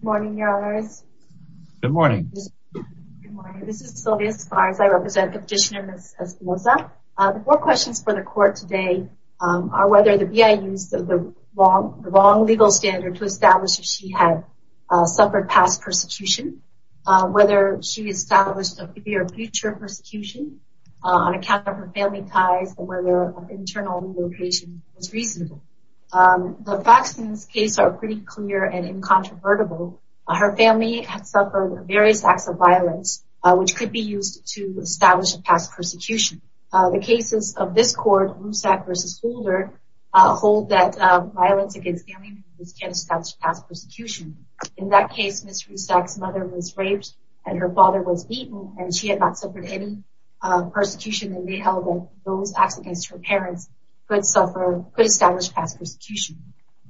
Good morning, Your Honors. Good morning. This is Sylvia Esparza. I represent the petitioner, Ms. Espinosa. The four questions for the Court today are whether the BIA used the wrong legal standard to establish that she had suffered past persecution, whether she established a fear of future persecution on account of her family ties, and whether an internal relocation was reasonable. The facts in this case are pretty clear and incontrovertible. Her family had suffered various acts of violence, which could be used to establish a past persecution. The cases of this Court, Rusak v. Holder, hold that violence against family members can establish past persecution. In that case, Ms. Rusak's mother was raped and her father was beaten, and she had not suffered any persecution, and they held that those acts against her parents could establish past persecution.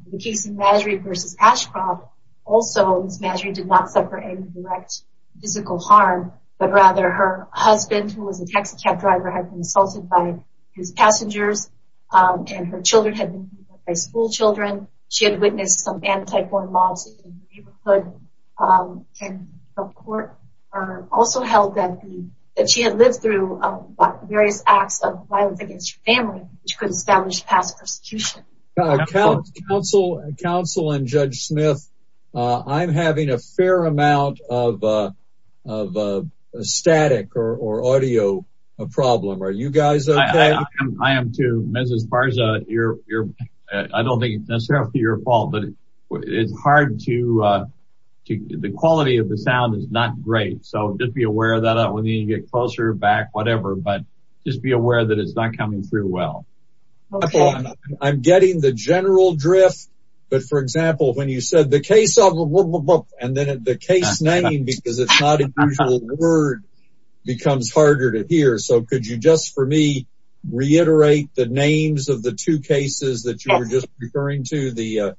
In the case of Mazury v. Ashcroft, also Ms. Mazury did not suffer any direct physical harm, but rather her husband, who was a taxicab driver, had been assaulted by his passengers, and her children had been beaten up by schoolchildren. She had witnessed some anti-porn mobs in the neighborhood, and the Court also held that she had lived through various acts of violence against her family, which could establish past persecution. Counsel and Judge Smith, I'm having a fair amount of static or audio problem. Are you guys okay? I am too. Mrs. Farza, I don't think it's necessarily your fault, but the quality of the audio is not coming through well. I'm getting the general drift, but for example, when you said the case of... and then the case name, because it's not an usual word, becomes harder to hear. So, could you just, for me, reiterate the names of the two cases that you were just referring to? The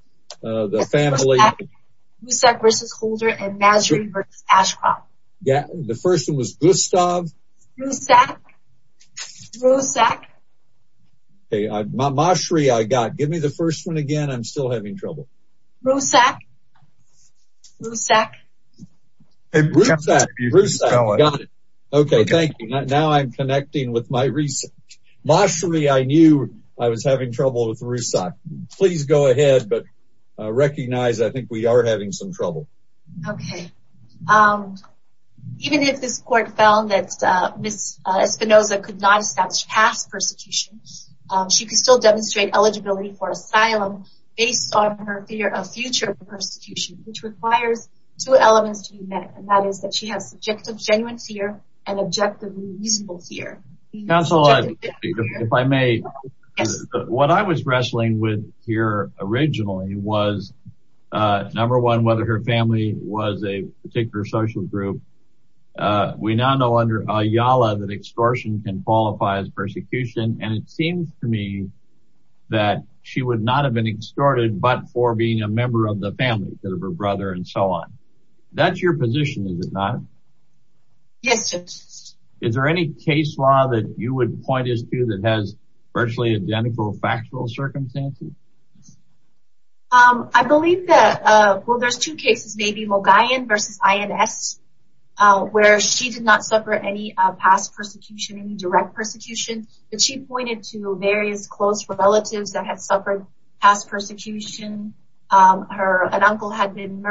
family, Rusak v. Holder, and Mazury v. Ashcroft. Yeah, the first one was Gustav. Rusak. Rusak. Okay, Mashri, I got it. Give me the first one again. I'm still having trouble. Rusak. Rusak. Rusak. Got it. Okay, thank you. Now, I'm connecting with my research. Mashri, I knew I was having trouble with Rusak. Please go ahead, but recognize I think we are having some trouble. Okay. Even if this court found that Ms. Espinoza could not establish past persecution, she could still demonstrate eligibility for asylum based on her fear of future persecution, which requires two elements to be met, and that is that she has subjective genuine fear and objective reasonable fear. Counsel, if I may, what I was wrestling with here originally was, number one, whether her family was a particular social group. We now know under Ayala that extortion can qualify as persecution, and it seems to me that she would not have been extorted, but for being a member of the family instead of her brother and so on. That's your position, is it not? Yes, Judge. Is there any case law that you would point us to that has virtually identical factual circumstances? I believe that, well, there's two cases, maybe Mogayan versus INS, where she did not suffer any past persecution, any direct persecution, but she pointed to various close relatives that had suffered past persecution. An uncle had been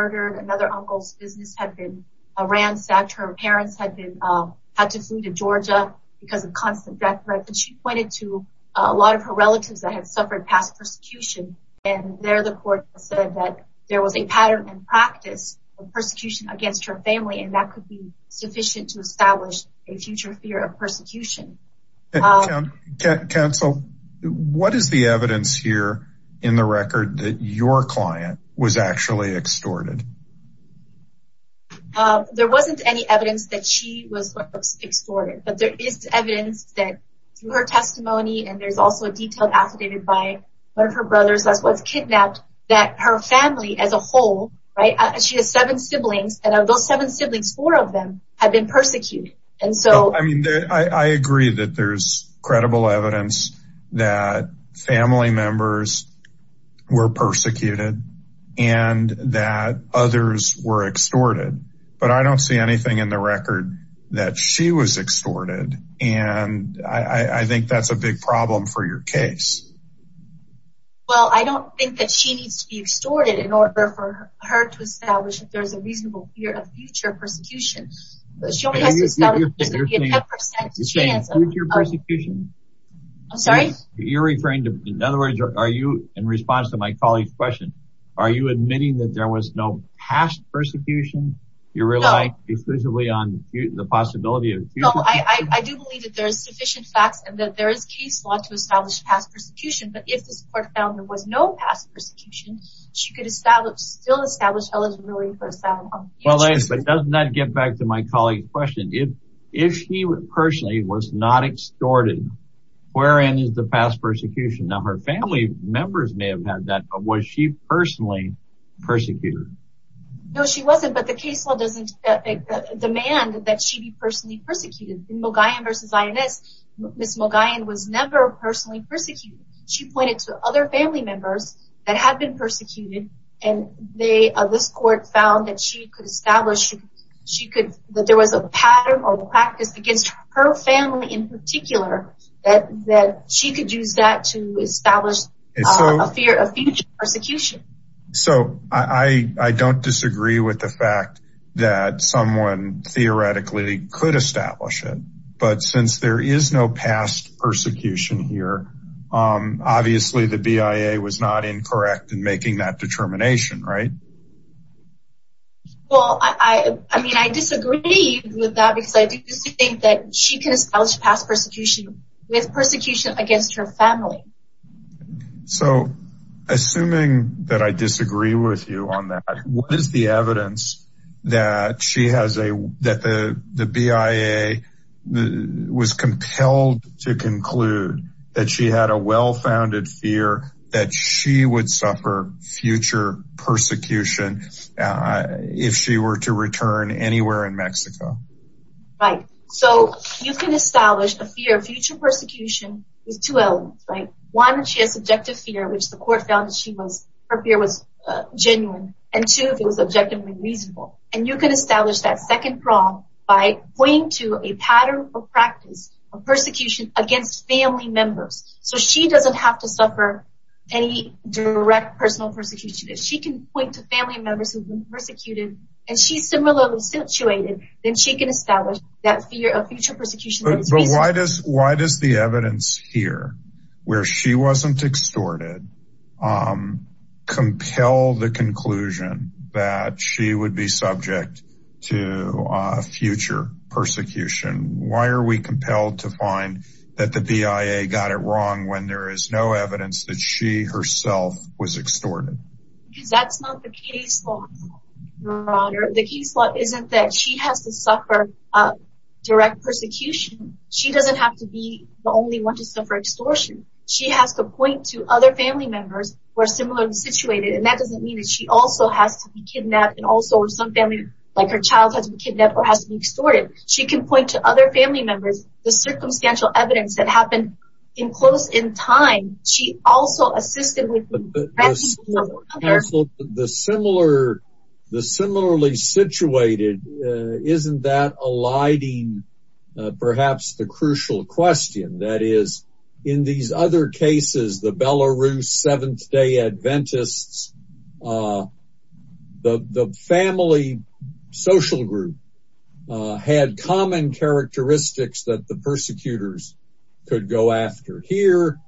ransacked, her parents had to flee to Georgia because of constant death threats, and she pointed to a lot of her relatives that had suffered past persecution, and there the court said that there was a pattern and practice of persecution against her family, and that could be sufficient to establish a future fear of persecution. Counsel, what is the evidence here in the record that your client was actually extorted? There wasn't any evidence that she was extorted, but there is evidence that through her testimony, and there's also a detailed affidavit by one of her brothers that was kidnapped, that her family as a whole, right, she has seven siblings, and of those seven siblings, four of them had been persecuted. And so, I mean, I agree that there's credible evidence that family members were persecuted, and that others were extorted, but I don't see anything in the record that she was extorted, and I think that's a big problem for your case. Well, I don't think that she needs to be extorted in order for her to establish that there's a reasonable fear of future persecution. She only has to establish past persecution. I'm sorry? You're referring to, in other words, are you, in response to my colleague's question, are you admitting that there was no past persecution? You relied exclusively on the possibility of future persecution? No, I do believe that there are sufficient facts, and that there is case law to establish past persecution, but if this court found there was no past persecution, she could still establish eligibility for asylum. Well, but doesn't that get back to my colleague's question? If she personally was not extorted, wherein is the past persecution? Now, her family members may have had that, but was she personally persecuted? No, she wasn't, but the case law doesn't demand that she be personally persecuted. In Mogollon v. INS, Ms. Mogollon was never personally persecuted. She pointed to other family members that had been persecuted, and this court found that she could establish that there was a pattern or practice against her family in particular that she could use that to establish a future persecution. So, I don't disagree with the fact that someone theoretically could establish it, but since there is no past persecution here, obviously the BIA was not incorrect in making that determination, right? Well, I mean, I disagree with that because I do think that she can establish past persecution with persecution against her family. So, assuming that I disagree with you on that, what is the evidence that she has a, that the BIA was compelled to conclude that she had a well-founded fear that she would suffer future persecution if she were to return anywhere in Mexico? Right. So, you can establish a fear of future persecution with two elements, right? One, she has subjective fear, which the court found that she was, her fear was genuine, and two, it was objectively reasonable. And you can establish that second prong by pointing to a pattern or practice of persecution against family members. So, she doesn't have to suffer any direct personal persecution. If she can point to family members who've been persecuted, and she's similarly situated, then she can establish that fear of future persecution. But why does the evidence here, where she wasn't extorted, um, compel the conclusion that she would be subject to future persecution? Why are we compelled to find that the BIA got it wrong when there is no evidence that she herself was extorted? Because that's not the case law, your honor. The case law isn't that she has to suffer a direct persecution. She doesn't have to be the only one to suffer extortion. She has to point to other family members who are similarly situated. And that doesn't mean that she also has to be kidnapped, and also some family, like her child has been kidnapped or has to be extorted. She can point to other family members, the circumstantial evidence that happened in close in time, she also assisted with. The similar, the similarly situated, isn't that eliding perhaps the crucial question that is in these other cases, the Belarus Seventh Day Adventists, the family social group had common characteristics that the persecutors could go after. Here,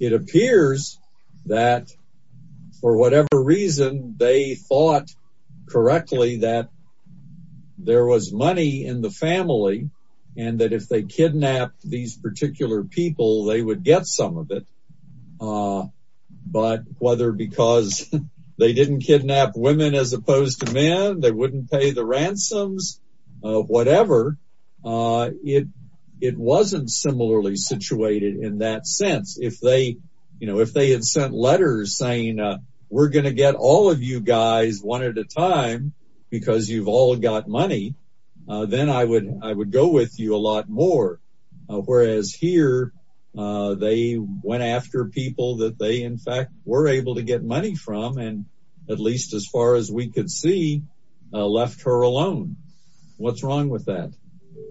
it appears that for whatever reason, they thought correctly that there was money in the family, and that if they kidnapped these particular people, they would get some of it. But whether because they didn't kidnap women as opposed to men, they wouldn't pay the ransoms, whatever, it wasn't similarly situated in that sense. If they had sent letters saying, we're going to get all of you guys one at a time, because you've all got money, then I would, I would go with you a lot more. Whereas here, they went after people that they in fact, were able to get money from and at least as far as we could see, left her alone. What's wrong with that?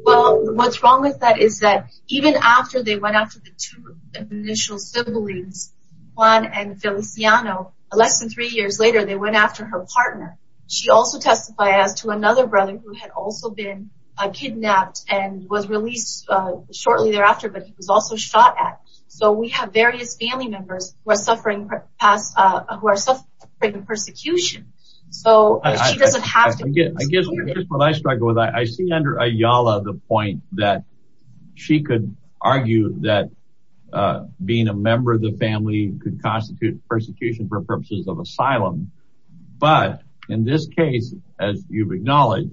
Well, what's wrong with that is that even after they went after the two initial siblings, Juan and Feliciano, less than three years later, they went after her partner. She also testified as to another brother who had also been kidnapped and was released shortly thereafter, but he was also shot at. So we have various family members who are suffering persecution. So she doesn't have to... I guess what I struggle with, I see under Ayala the point that she could argue that being a member of the family could constitute persecution for purposes of asylum. But in this case, as you've acknowledged,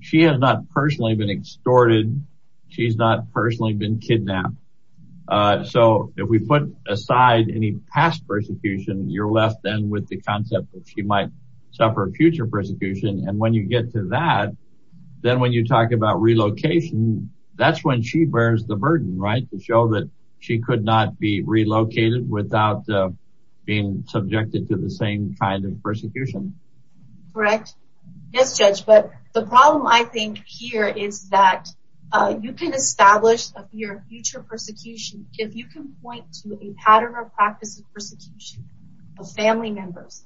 she has not personally been extorted. She's not personally been kidnapped. So if we put aside any past persecution, you're left then with the concept that she might suffer future persecution. And when you get to that, then when you talk about relocation, that's when she bears the burden, right? To show that she could not be relocated without being subjected to the same kind of persecution. Correct. Yes, Judge. But the problem I think here is that you can establish your future persecution if you can point to a pattern or practice of persecution of family members.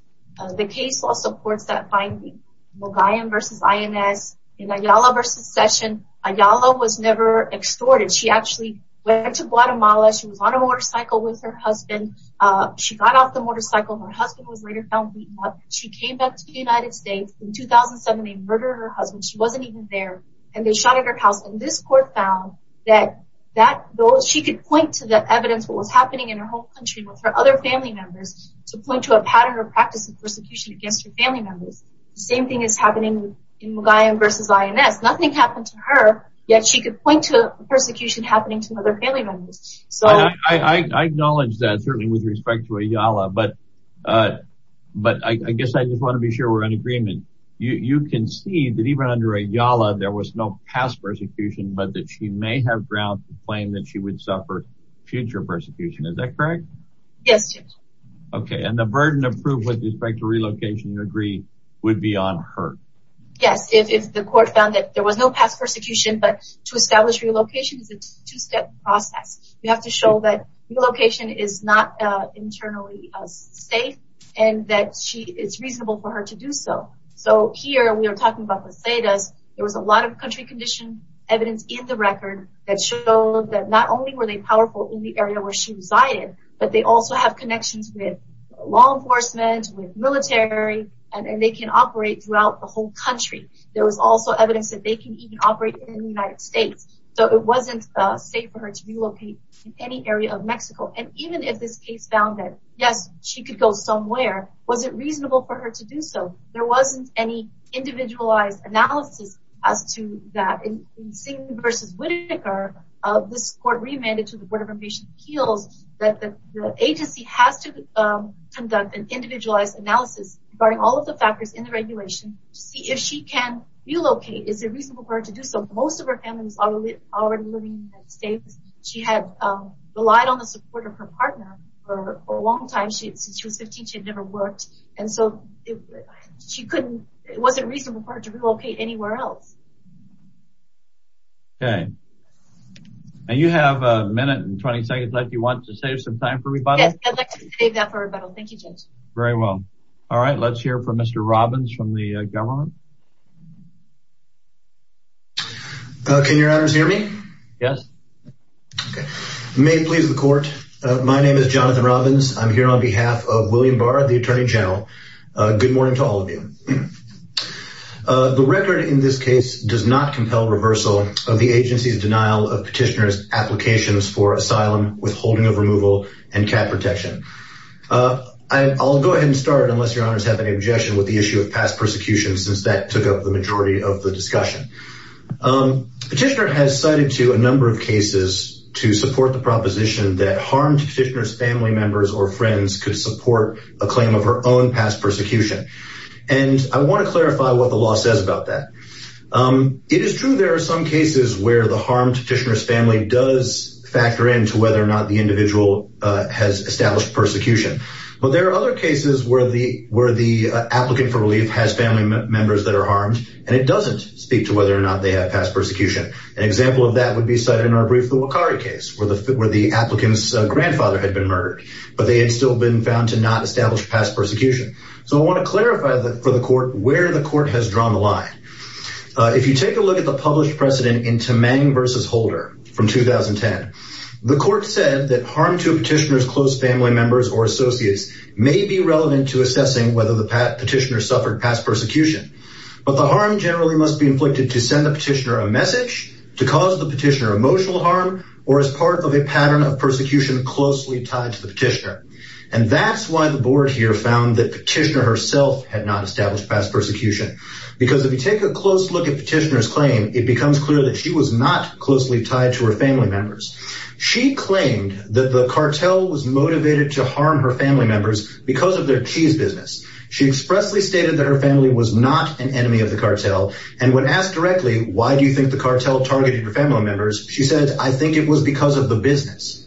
The case law supports that finding. Mogollon v. INS. In Ayala v. Session, Ayala was never extorted. She actually went to Guatemala. She was on a motorcycle with her husband. She got off the motorcycle. Her husband was later found beaten up. She came back to the United States. In 2007, they murdered her husband. She wasn't even there. And they shot at her house. And this court found that she could point to the evidence, what was happening in her home country with her other family members, to point to a pattern or practice of persecution against her family members. The same thing is happening in Mogollon v. INS. Nothing happened to her, yet she could point to persecution happening to other family members. I acknowledge that, certainly with respect to Ayala. But I guess I just want to be sure we're in agreement. You can see that even under Ayala, there was no past persecution, but that she may have grounds to claim that she would suffer future persecution. Correct? Yes. And the burden of proof with respect to relocation would be on her. Yes. If the court found that there was no past persecution, but to establish relocation is a two-step process. You have to show that relocation is not internally safe and that it's reasonable for her to do so. So here, we are talking about Las Vegas. There was a lot of country condition evidence in the record that showed that not only were they powerful in the area where she resided, but they also have connections with law enforcement, with military, and they can operate throughout the whole country. There was also evidence that they can even operate in the United States. So it wasn't safe for her to relocate in any area of Mexico. And even if this case found that, yes, she could go somewhere, was it reasonable for her to do so? There wasn't any versus Whitaker. This court remanded to the Board of Immigration Appeals that the agency has to conduct an individualized analysis regarding all of the factors in the regulation to see if she can relocate. Is it reasonable for her to do so? Most of her family was already living in the United States. She had relied on the support of her partner for a long time. Since she was 15, she had never worked. And so it wasn't reasonable for her to relocate anywhere else. Okay. And you have a minute and 20 seconds left. You want to save some time for rebuttal? Yes, I'd like to save that for rebuttal. Thank you, Judge. Very well. All right. Let's hear from Mr. Robbins from the government. Can your honors hear me? Yes. Okay. May it please the court. My name is Jonathan Robbins. I'm here on behalf of William Barr, the attorney general. Good morning to all of you. The record in this case does not the agency's denial of petitioner's applications for asylum, withholding of removal, and cap protection. I'll go ahead and start, unless your honors have any objection with the issue of past persecution, since that took up the majority of the discussion. Petitioner has cited to a number of cases to support the proposition that harmed petitioner's family members or friends could support a claim of her own past persecution. And I want to clarify what the law says about that. It is true there are some cases where the harmed petitioner's family does factor into whether or not the individual has established persecution. But there are other cases where the applicant for relief has family members that are harmed, and it doesn't speak to whether or not they have past persecution. An example of that would be cited in our brief, the Wakari case, where the applicant's grandfather had been murdered, but they had still been found to not establish past persecution. So I want to clarify for the court where the court has drawn the line. If you take a look at the published precedent in Tamang v. Holder from 2010, the court said that harm to a petitioner's close family members or associates may be relevant to assessing whether the petitioner suffered past persecution. But the harm generally must be inflicted to send the petitioner a message, to cause the petitioner emotional harm, or as part of a pattern of had not established past persecution. Because if you take a close look at petitioner's claim, it becomes clear that she was not closely tied to her family members. She claimed that the cartel was motivated to harm her family members because of their cheese business. She expressly stated that her family was not an enemy of the cartel. And when asked directly, why do you think the cartel targeted her family members? She said, I think it was because of the business.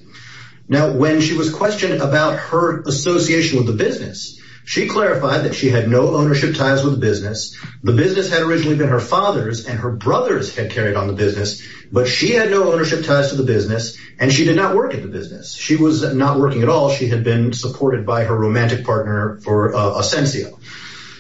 Now, when she was questioned about her association with the business, she clarified that she had no ownership ties with the business. The business had originally been her father's and her brother's had carried on the business, but she had no ownership ties to the business and she did not work at the business. She was not working at all. She had been supported by her romantic partner for Asensio.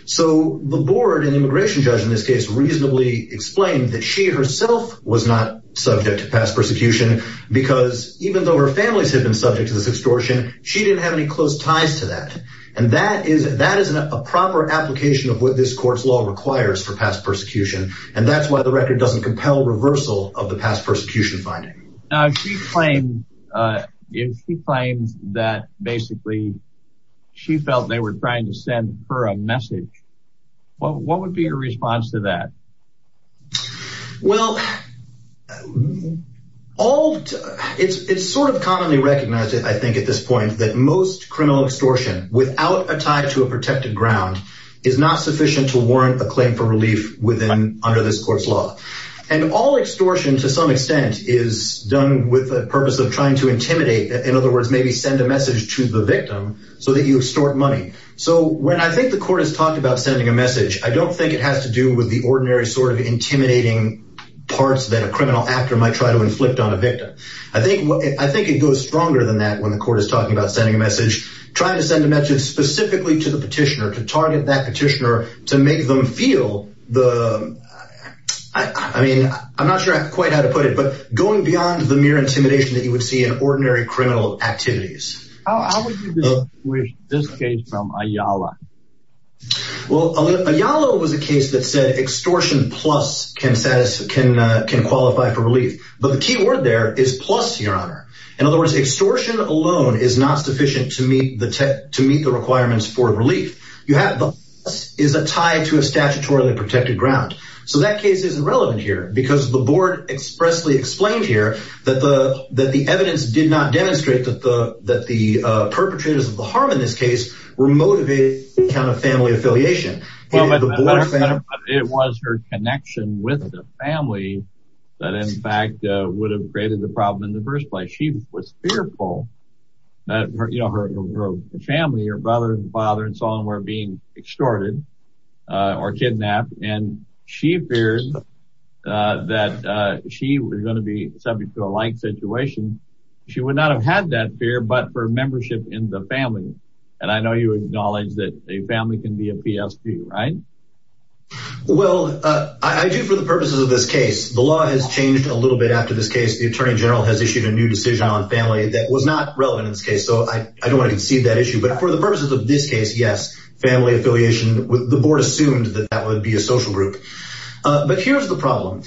So the board and immigration judge in this case reasonably explained that she herself was not subject to past persecution because even though her families had been subject to this extortion, she didn't have any close ties to that. And that is a proper application of what this court's law requires for past persecution. And that's why the record doesn't compel reversal of the past persecution finding. Now, she claimed that basically she felt they were trying to send her a message. What would be your response to that? Well, all it's it's sort of commonly recognized, I think, at this point that most criminal extortion without a tie to a protected ground is not sufficient to warrant a claim for relief within under this court's law. And all extortion, to some extent, is done with the purpose of trying to intimidate. In other words, maybe send a message to the victim so that you extort money. So when I think the court has talked about sending a message, I don't think it has to do with the ordinary sort of intimidating parts that a criminal actor might try to inflict on a victim. I think I think it goes stronger than that when the court is talking about sending a message, trying to send a message specifically to the petitioner to target that petitioner to make them feel the I mean, I'm not sure quite how to put it, but going beyond the mere intimidation you would see in ordinary criminal activities. How would you distinguish this case from Ayala? Well, Ayala was a case that said extortion plus can satisfy can can qualify for relief. But the key word there is plus your honor. In other words, extortion alone is not sufficient to meet the tech to meet the requirements for relief you have is a tie to a statutorily protected ground. So that case is irrelevant here because the board expressly explained here that the that the evidence did not demonstrate that the that the perpetrators of the harm in this case were motivated kind of family affiliation. It was her connection with the family that in fact would have created the problem in the first place. She was fearful that her family or brother and father and so on were being extorted or kidnapped. And she feared that she was going to be subject to a like situation. She would not have had that fear, but for membership in the family. And I know you acknowledge that a family can be a PSP, right? Well, I do for the purposes of this case, the law has changed a little bit after this case, the Attorney General has issued a new decision on family that was not relevant in this case. So I don't want to concede that issue. But for the purposes of this case, yes, family affiliation the board assumed that that would be a social group. But here's the problem.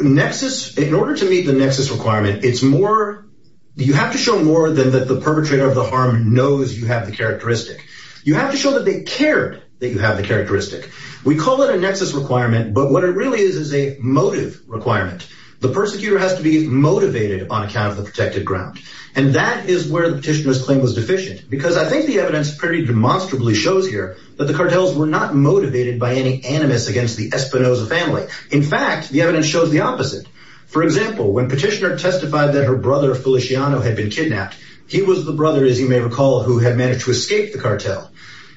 Nexus in order to meet the nexus requirement, it's more you have to show more than that. The perpetrator of the harm knows you have the characteristic. You have to show that they cared that you have the characteristic. We call it a nexus requirement. But what it really is, is a motive requirement. The persecutor has to be motivated on account of the protected ground. And that is where the petitioners claim was deficient, because I think the evidence pretty demonstrably shows here that the cartels were not motivated by any animus against the Espinoza family. In fact, the evidence shows the opposite. For example, when petitioner testified that her brother Feliciano had been kidnapped, he was the brother, as you may recall, who had managed to escape the cartel.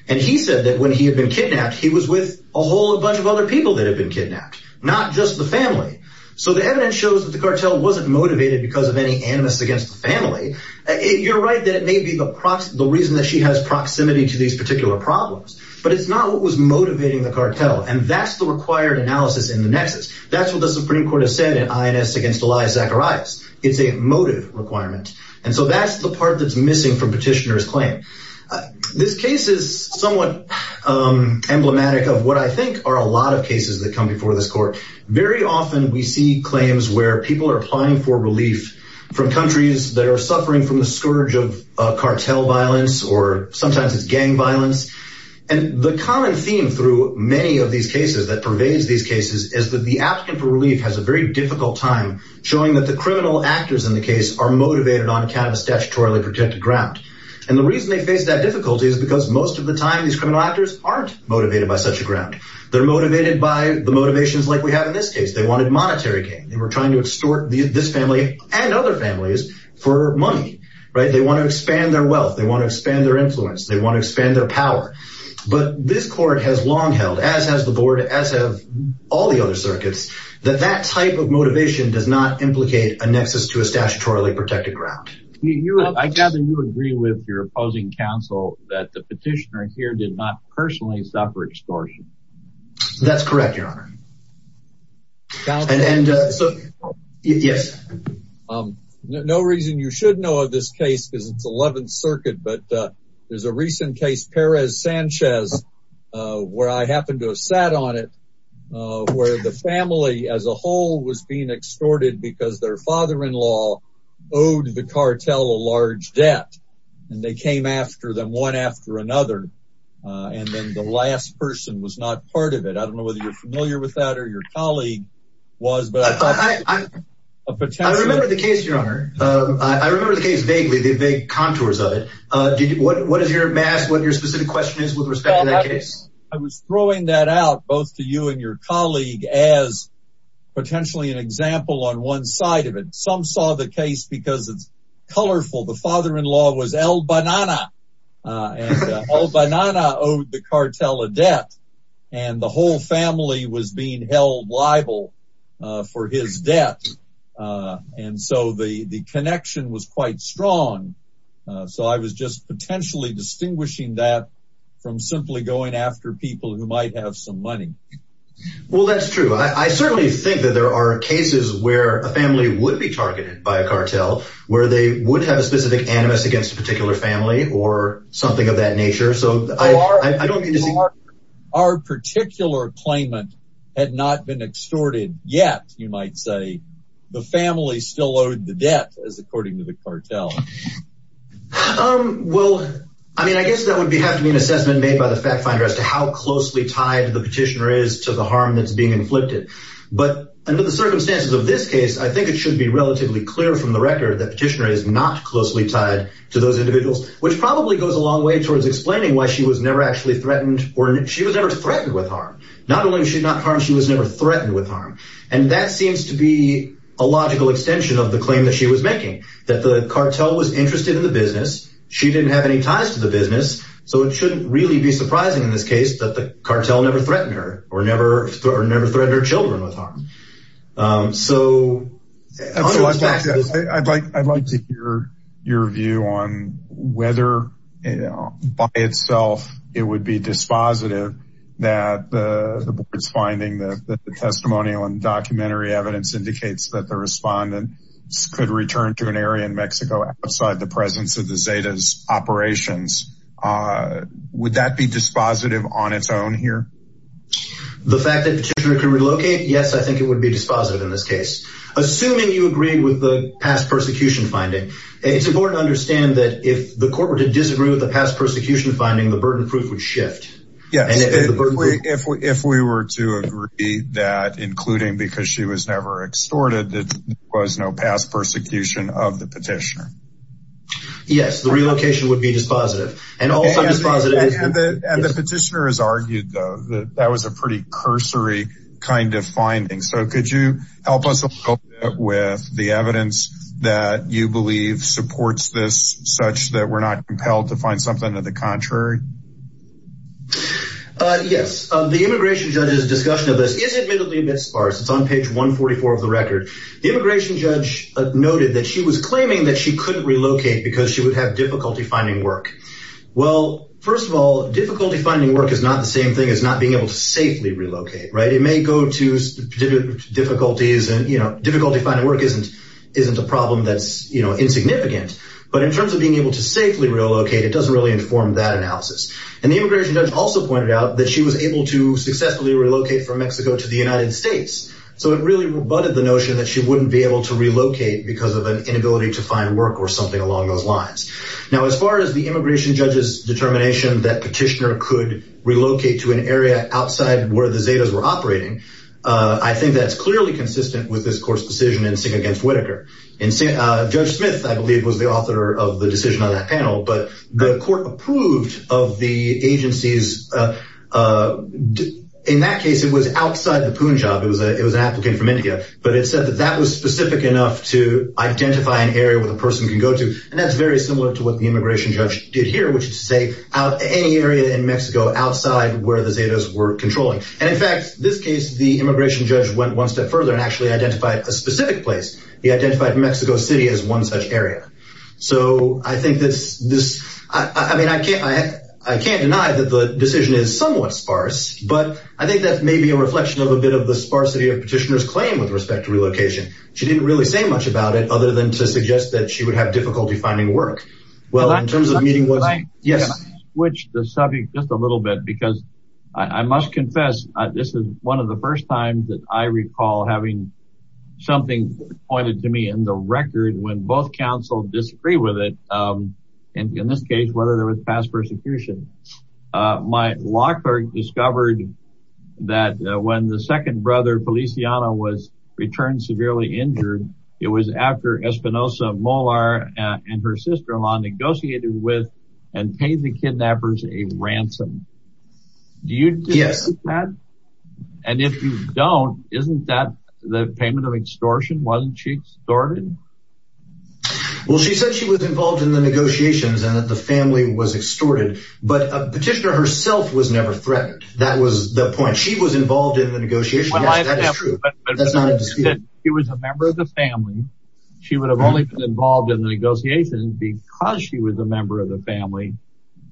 And he said that when he had been kidnapped, he was with a whole bunch of other people that had been kidnapped, not just the family. So the evidence shows that the cartel wasn't motivated because of any animus against the family. You're right that it may be the reason that she has proximity to these particular problems, but it's not what was motivating the cartel. And that's the required analysis in the nexus. That's what the Supreme Court has said in INS against Elias Zacharias. It's a motive requirement. And so that's the part that's missing from petitioner's claim. This case is somewhat emblematic of what I think are a lot of cases that come before this court. Very often, we see claims where people are applying for relief from countries that are And the common theme through many of these cases that pervades these cases is that the applicant for relief has a very difficult time showing that the criminal actors in the case are motivated on account of statutorily protected ground. And the reason they face that difficulty is because most of the time, these criminal actors aren't motivated by such a ground. They're motivated by the motivations like we have in this case. They wanted monetary gain. They were trying to extort this family and other families for money, right? They want to expand their wealth. They want to expand their influence. They want to expand their power. But this court has long held, as has the board, as have all the other circuits, that that type of motivation does not implicate a nexus to a statutorily protected ground. I gather you agree with your opposing counsel that the petitioner here did not personally suffer extortion. That's correct, Your Honor. No reason you should know this case because it's 11th Circuit. But there's a recent case, Perez-Sanchez, where I happen to have sat on it, where the family as a whole was being extorted because their father-in-law owed the cartel a large debt. And they came after them one after another. And then the last person was not part of it. I don't know whether you're familiar with that or your colleague was, but I remember the case, Your Honor. I remember the case vaguely, the vague contours of it. What is your mass, what your specific question is with respect to that case? I was throwing that out, both to you and your colleague, as potentially an example on one side of it. Some saw the case because it's colorful. The father-in-law was El Banana, and El Banana owed the cartel a debt. And the whole family was being held liable for his debt. And so the connection was quite strong. So I was just potentially distinguishing that from simply going after people who might have some money. Well, that's true. I certainly think that there are cases where a family would be targeted by a cartel, where they would have a specific animus against a particular family or something of that nature. So our particular claimant had not been extorted yet, you might say. The family still owed the debt, as according to the cartel. Well, I mean, I guess that would have to be an assessment made by the fact finder as to how closely tied the petitioner is to the harm that's being inflicted. But under the circumstances of this case, I think it should be relatively clear from the record that petitioner is not closely tied to those individuals, which probably goes a long way towards explaining why she was never actually threatened or she was never threatened with harm. Not only was she not harmed, she was never threatened with harm. And that seems to be a logical extension of the claim that she was making, that the cartel was interested in the business. She didn't have any ties to the business. So it shouldn't really be surprising in this case that the cartel never threatened her or never threatened her children with harm. I'd like to hear your view on whether by itself it would be dispositive that the board's finding that the testimonial and documentary evidence indicates that the respondent could return to an area in Mexico outside the presence of the here. The fact that the petitioner could relocate, yes, I think it would be dispositive in this case. Assuming you agree with the past persecution finding, it's important to understand that if the court were to disagree with the past persecution finding, the burden proof would shift. Yes, if we were to agree that, including because she was never extorted, there was no past persecution of the petitioner. Yes, the relocation would be dispositive. And the petitioner is that that was a pretty cursory kind of finding. So could you help us with the evidence that you believe supports this such that we're not compelled to find something to the contrary? Yes, the immigration judge's discussion of this is admittedly a bit sparse. It's on page 144 of the record. The immigration judge noted that she was claiming that she couldn't relocate because she would have difficulty finding work. Well, first of all, difficulty finding work is not the same thing as not being able to safely relocate. It may go to difficulties and difficulty finding work isn't a problem that's insignificant. But in terms of being able to safely relocate, it doesn't really inform that analysis. And the immigration judge also pointed out that she was able to successfully relocate from Mexico to the United States. So it really rebutted the notion that she wouldn't be able to relocate because of an inability to find work or something along those lines. Now, as far as the immigration judge's determination that petitioner could relocate to an area outside where the Zetas were operating, I think that's clearly consistent with this court's decision in Singh against Whitaker. Judge Smith, I believe, was the author of the decision on that panel. But the court approved of the agency's... In that case, it was outside the Punjab. It was an applicant from India. But it said that that was specific enough to what the immigration judge did here, which is to say out any area in Mexico outside where the Zetas were controlling. And in fact, this case, the immigration judge went one step further and actually identified a specific place. He identified Mexico City as one such area. So I think that's this... I mean, I can't deny that the decision is somewhat sparse, but I think that may be a reflection of a bit of the sparsity of petitioner's claim with respect to relocation. She didn't really say much about it other than to suggest that she would have difficulty finding work. Well, in terms of meeting with... Yes. Can I switch the subject just a little bit? Because I must confess, this is one of the first times that I recall having something pointed to me in the record when both counsel disagree with it. And in this case, whether there was past persecution. My law clerk discovered that when the second brother, Feliciano, was returned severely injured, it was after Espinosa, Molar and her sister-in-law negotiated with and paid the kidnappers a ransom. Do you... Yes. And if you don't, isn't that the payment of extortion? Wasn't she extorted? Well, she said she was involved in the negotiations and that the family was extorted, but a petitioner herself was never threatened. That was the point. She was involved in the negotiation. That's true. That's not a dispute. She was a member of the family. She would have only been involved in the negotiations because she was a member of the family.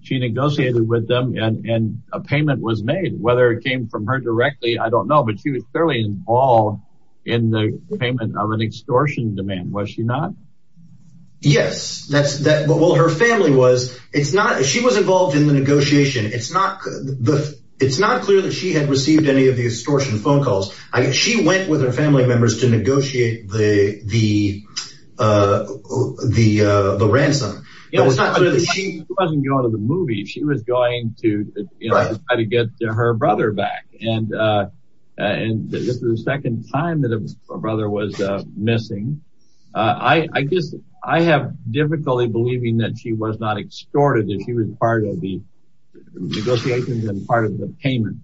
She negotiated with them and a payment was made. Whether it came from her directly, I don't know. But she was clearly involved in the payment of an extortion demand. Was she not? Yes. Well, her family was. She was involved in the negotiation. It's not clear that she had received any of the extortion phone calls. She went with her family members to negotiate the ransom. She wasn't going to the movies. She was going to try to get her brother back. And this was the second time that her brother was missing. I have difficulty believing that she was not extorted, that she was part of the negotiations and part of the payment.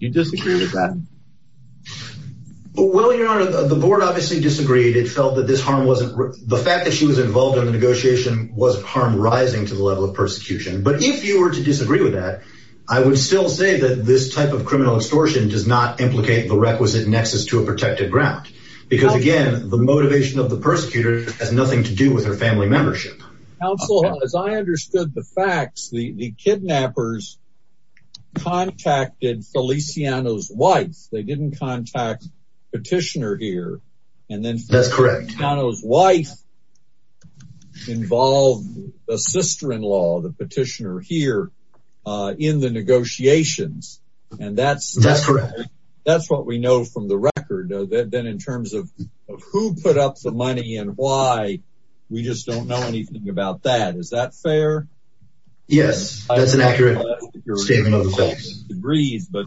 Do you disagree with that? Well, your honor, the board obviously disagreed. It felt that this harm wasn't the fact that she was involved in the negotiation was harm rising to the level of persecution. But if you were to disagree with that, I would still say that this type of criminal extortion does not implicate the requisite nexus to a protected ground, because, again, the motivation of the persecutor has nothing to do with her family membership. Also, as I understood the facts, the kidnappers contacted Feliciano's wife. They didn't contact the petitioner here. And then that's correct. His wife involved a sister-in-law, the petitioner here in the negotiations. And that's that's correct. That's what we know from the record. Then in terms of who put up the money and why, we just don't know anything about that. Is that fair? Yes, that's an accurate statement of the facts. But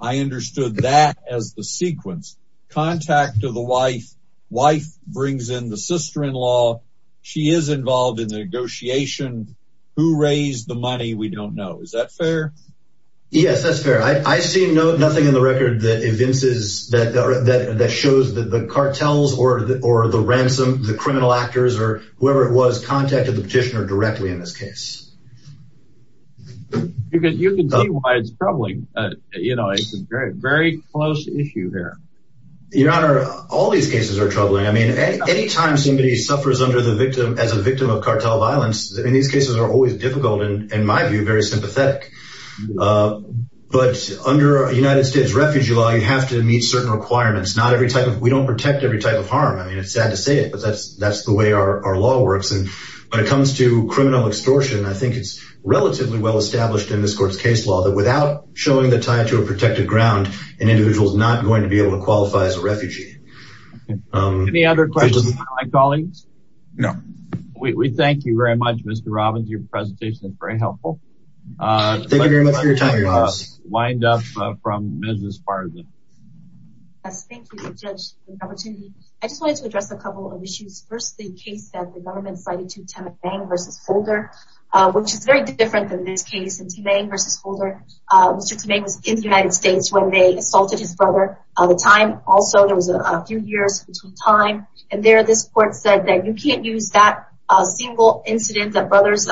I understood that as the sequence. Contact of the wife. Wife brings in the sister-in-law. She is involved in the negotiation. Who raised the money? We don't know. Is that fair? Yes, that's fair. I see no nothing in the record that evinces that or that shows that the cartels or or the ransom, the criminal actors or whoever it was, contacted the petitioner directly in this case. You can see why it's troubling. You know, it's a very, very close issue here. Your Honor, all these cases are troubling. I mean, anytime somebody suffers under the victim as a victim of cartel violence, in these cases are always difficult and, in my view, very sympathetic. But under United States Refugee Law, you have to meet certain requirements, not every type of, don't protect every type of harm. I mean, it's sad to say it, but that's that's the way our law works. And when it comes to criminal extortion, I think it's relatively well established in this court's case law that without showing the tie to a protected ground, an individual is not going to be able to qualify as a refugee. Any other questions from my colleagues? No. We thank you very much, Mr. Robbins. Your presentation is very helpful. Thank you very much for your time. I just wanted to address a couple of issues. First, the case that the government cited to Tamang v. Holder, which is very different than this case. Tamang v. Holder, Mr. Tamang was in the United States when they assaulted his brother at the time. Also, there was a few years between time. And there, this court said that you can't use that single incident of brother's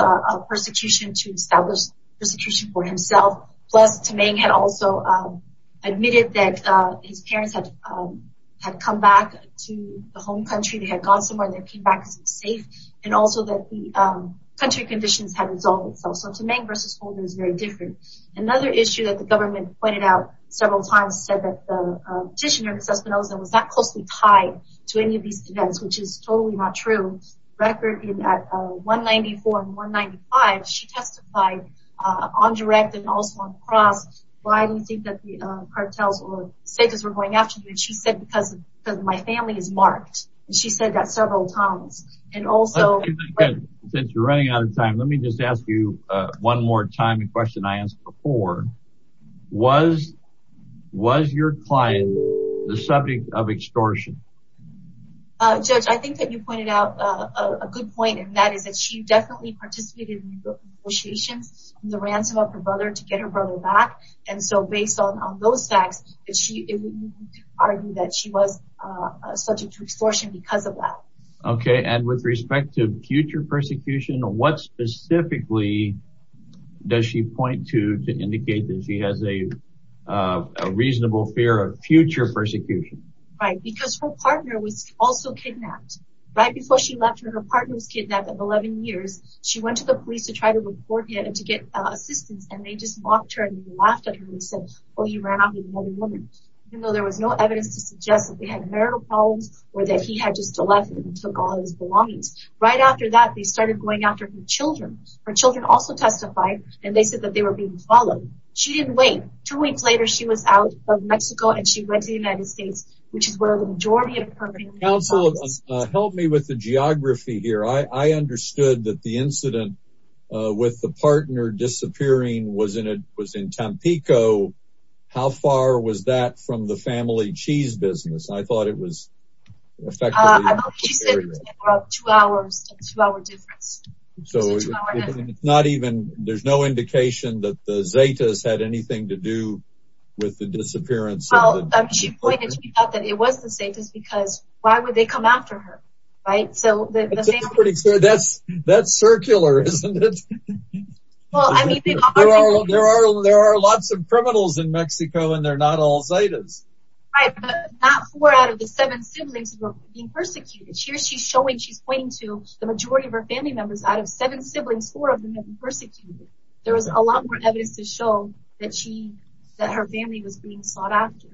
persecution to establish persecution for himself. Plus, Tamang had also admitted that his parents had come back to the home country. They had gone somewhere and they came back safe. And also, that the country conditions had resolved itself. So, Tamang v. Holder is very different. Another issue that the government pointed out several times said that the petitioner, Ms. Espinosa, was not closely tied to any of these events, which is totally not true. In 1994 and 1995, she testified on direct and also on the cross. Why do you think that the cartels were going after you? And she said, because my family is marked. She said that several times. And also... Since you're running out of time, let me just ask you one more time a question I asked before. Was your client the subject of extortion? Judge, I think that you pointed out a good point. And that is that she definitely participated in the negotiations and the ransom of her brother to get her brother back. And so, based on those facts, it would be argued that she was subject to extortion because of that. Okay. And with respect to future persecution, what specifically does she point to to indicate that she has a reasonable fear of future persecution? Right. Because her partner was also kidnapped. Right before she left her, her partner was kidnapped at 11 years. She went to the police to try to report him to get assistance, and they just mocked her and laughed at her and said, oh, you ran off with another woman. Even though there was no evidence to suggest that they had marital problems or that he had just left and took all his belongings. Right after that, they started going after her and they said that they were being followed. She didn't wait. Two weeks later, she was out of Mexico and she went to the United States, which is where the majority of her family is. Counsel, help me with the geography here. I understood that the incident with the partner disappearing was in Tampico. How far was that from the family cheese business? I thought it was two hours, two hour difference. So it's not even there's no indication that the Zetas had anything to do with the disappearance. She pointed out that it was the safest because why would they come after her? Right. So that's that's circular, isn't it? Well, I mean, there are there are there are lots of criminals in Mexico and they're not all Zetas. Not four out of the seven siblings being persecuted. Here she's showing she's the majority of her family members out of seven siblings, four of them have been persecuted. There was a lot more evidence to show that she that her family was being sought after.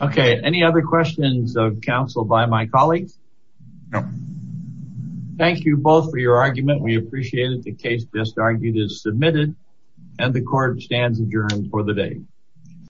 Okay. Any other questions of counsel by my colleagues? Thank you both for your argument. We appreciate it. The case just argued is submitted and the court stands adjourned for the day.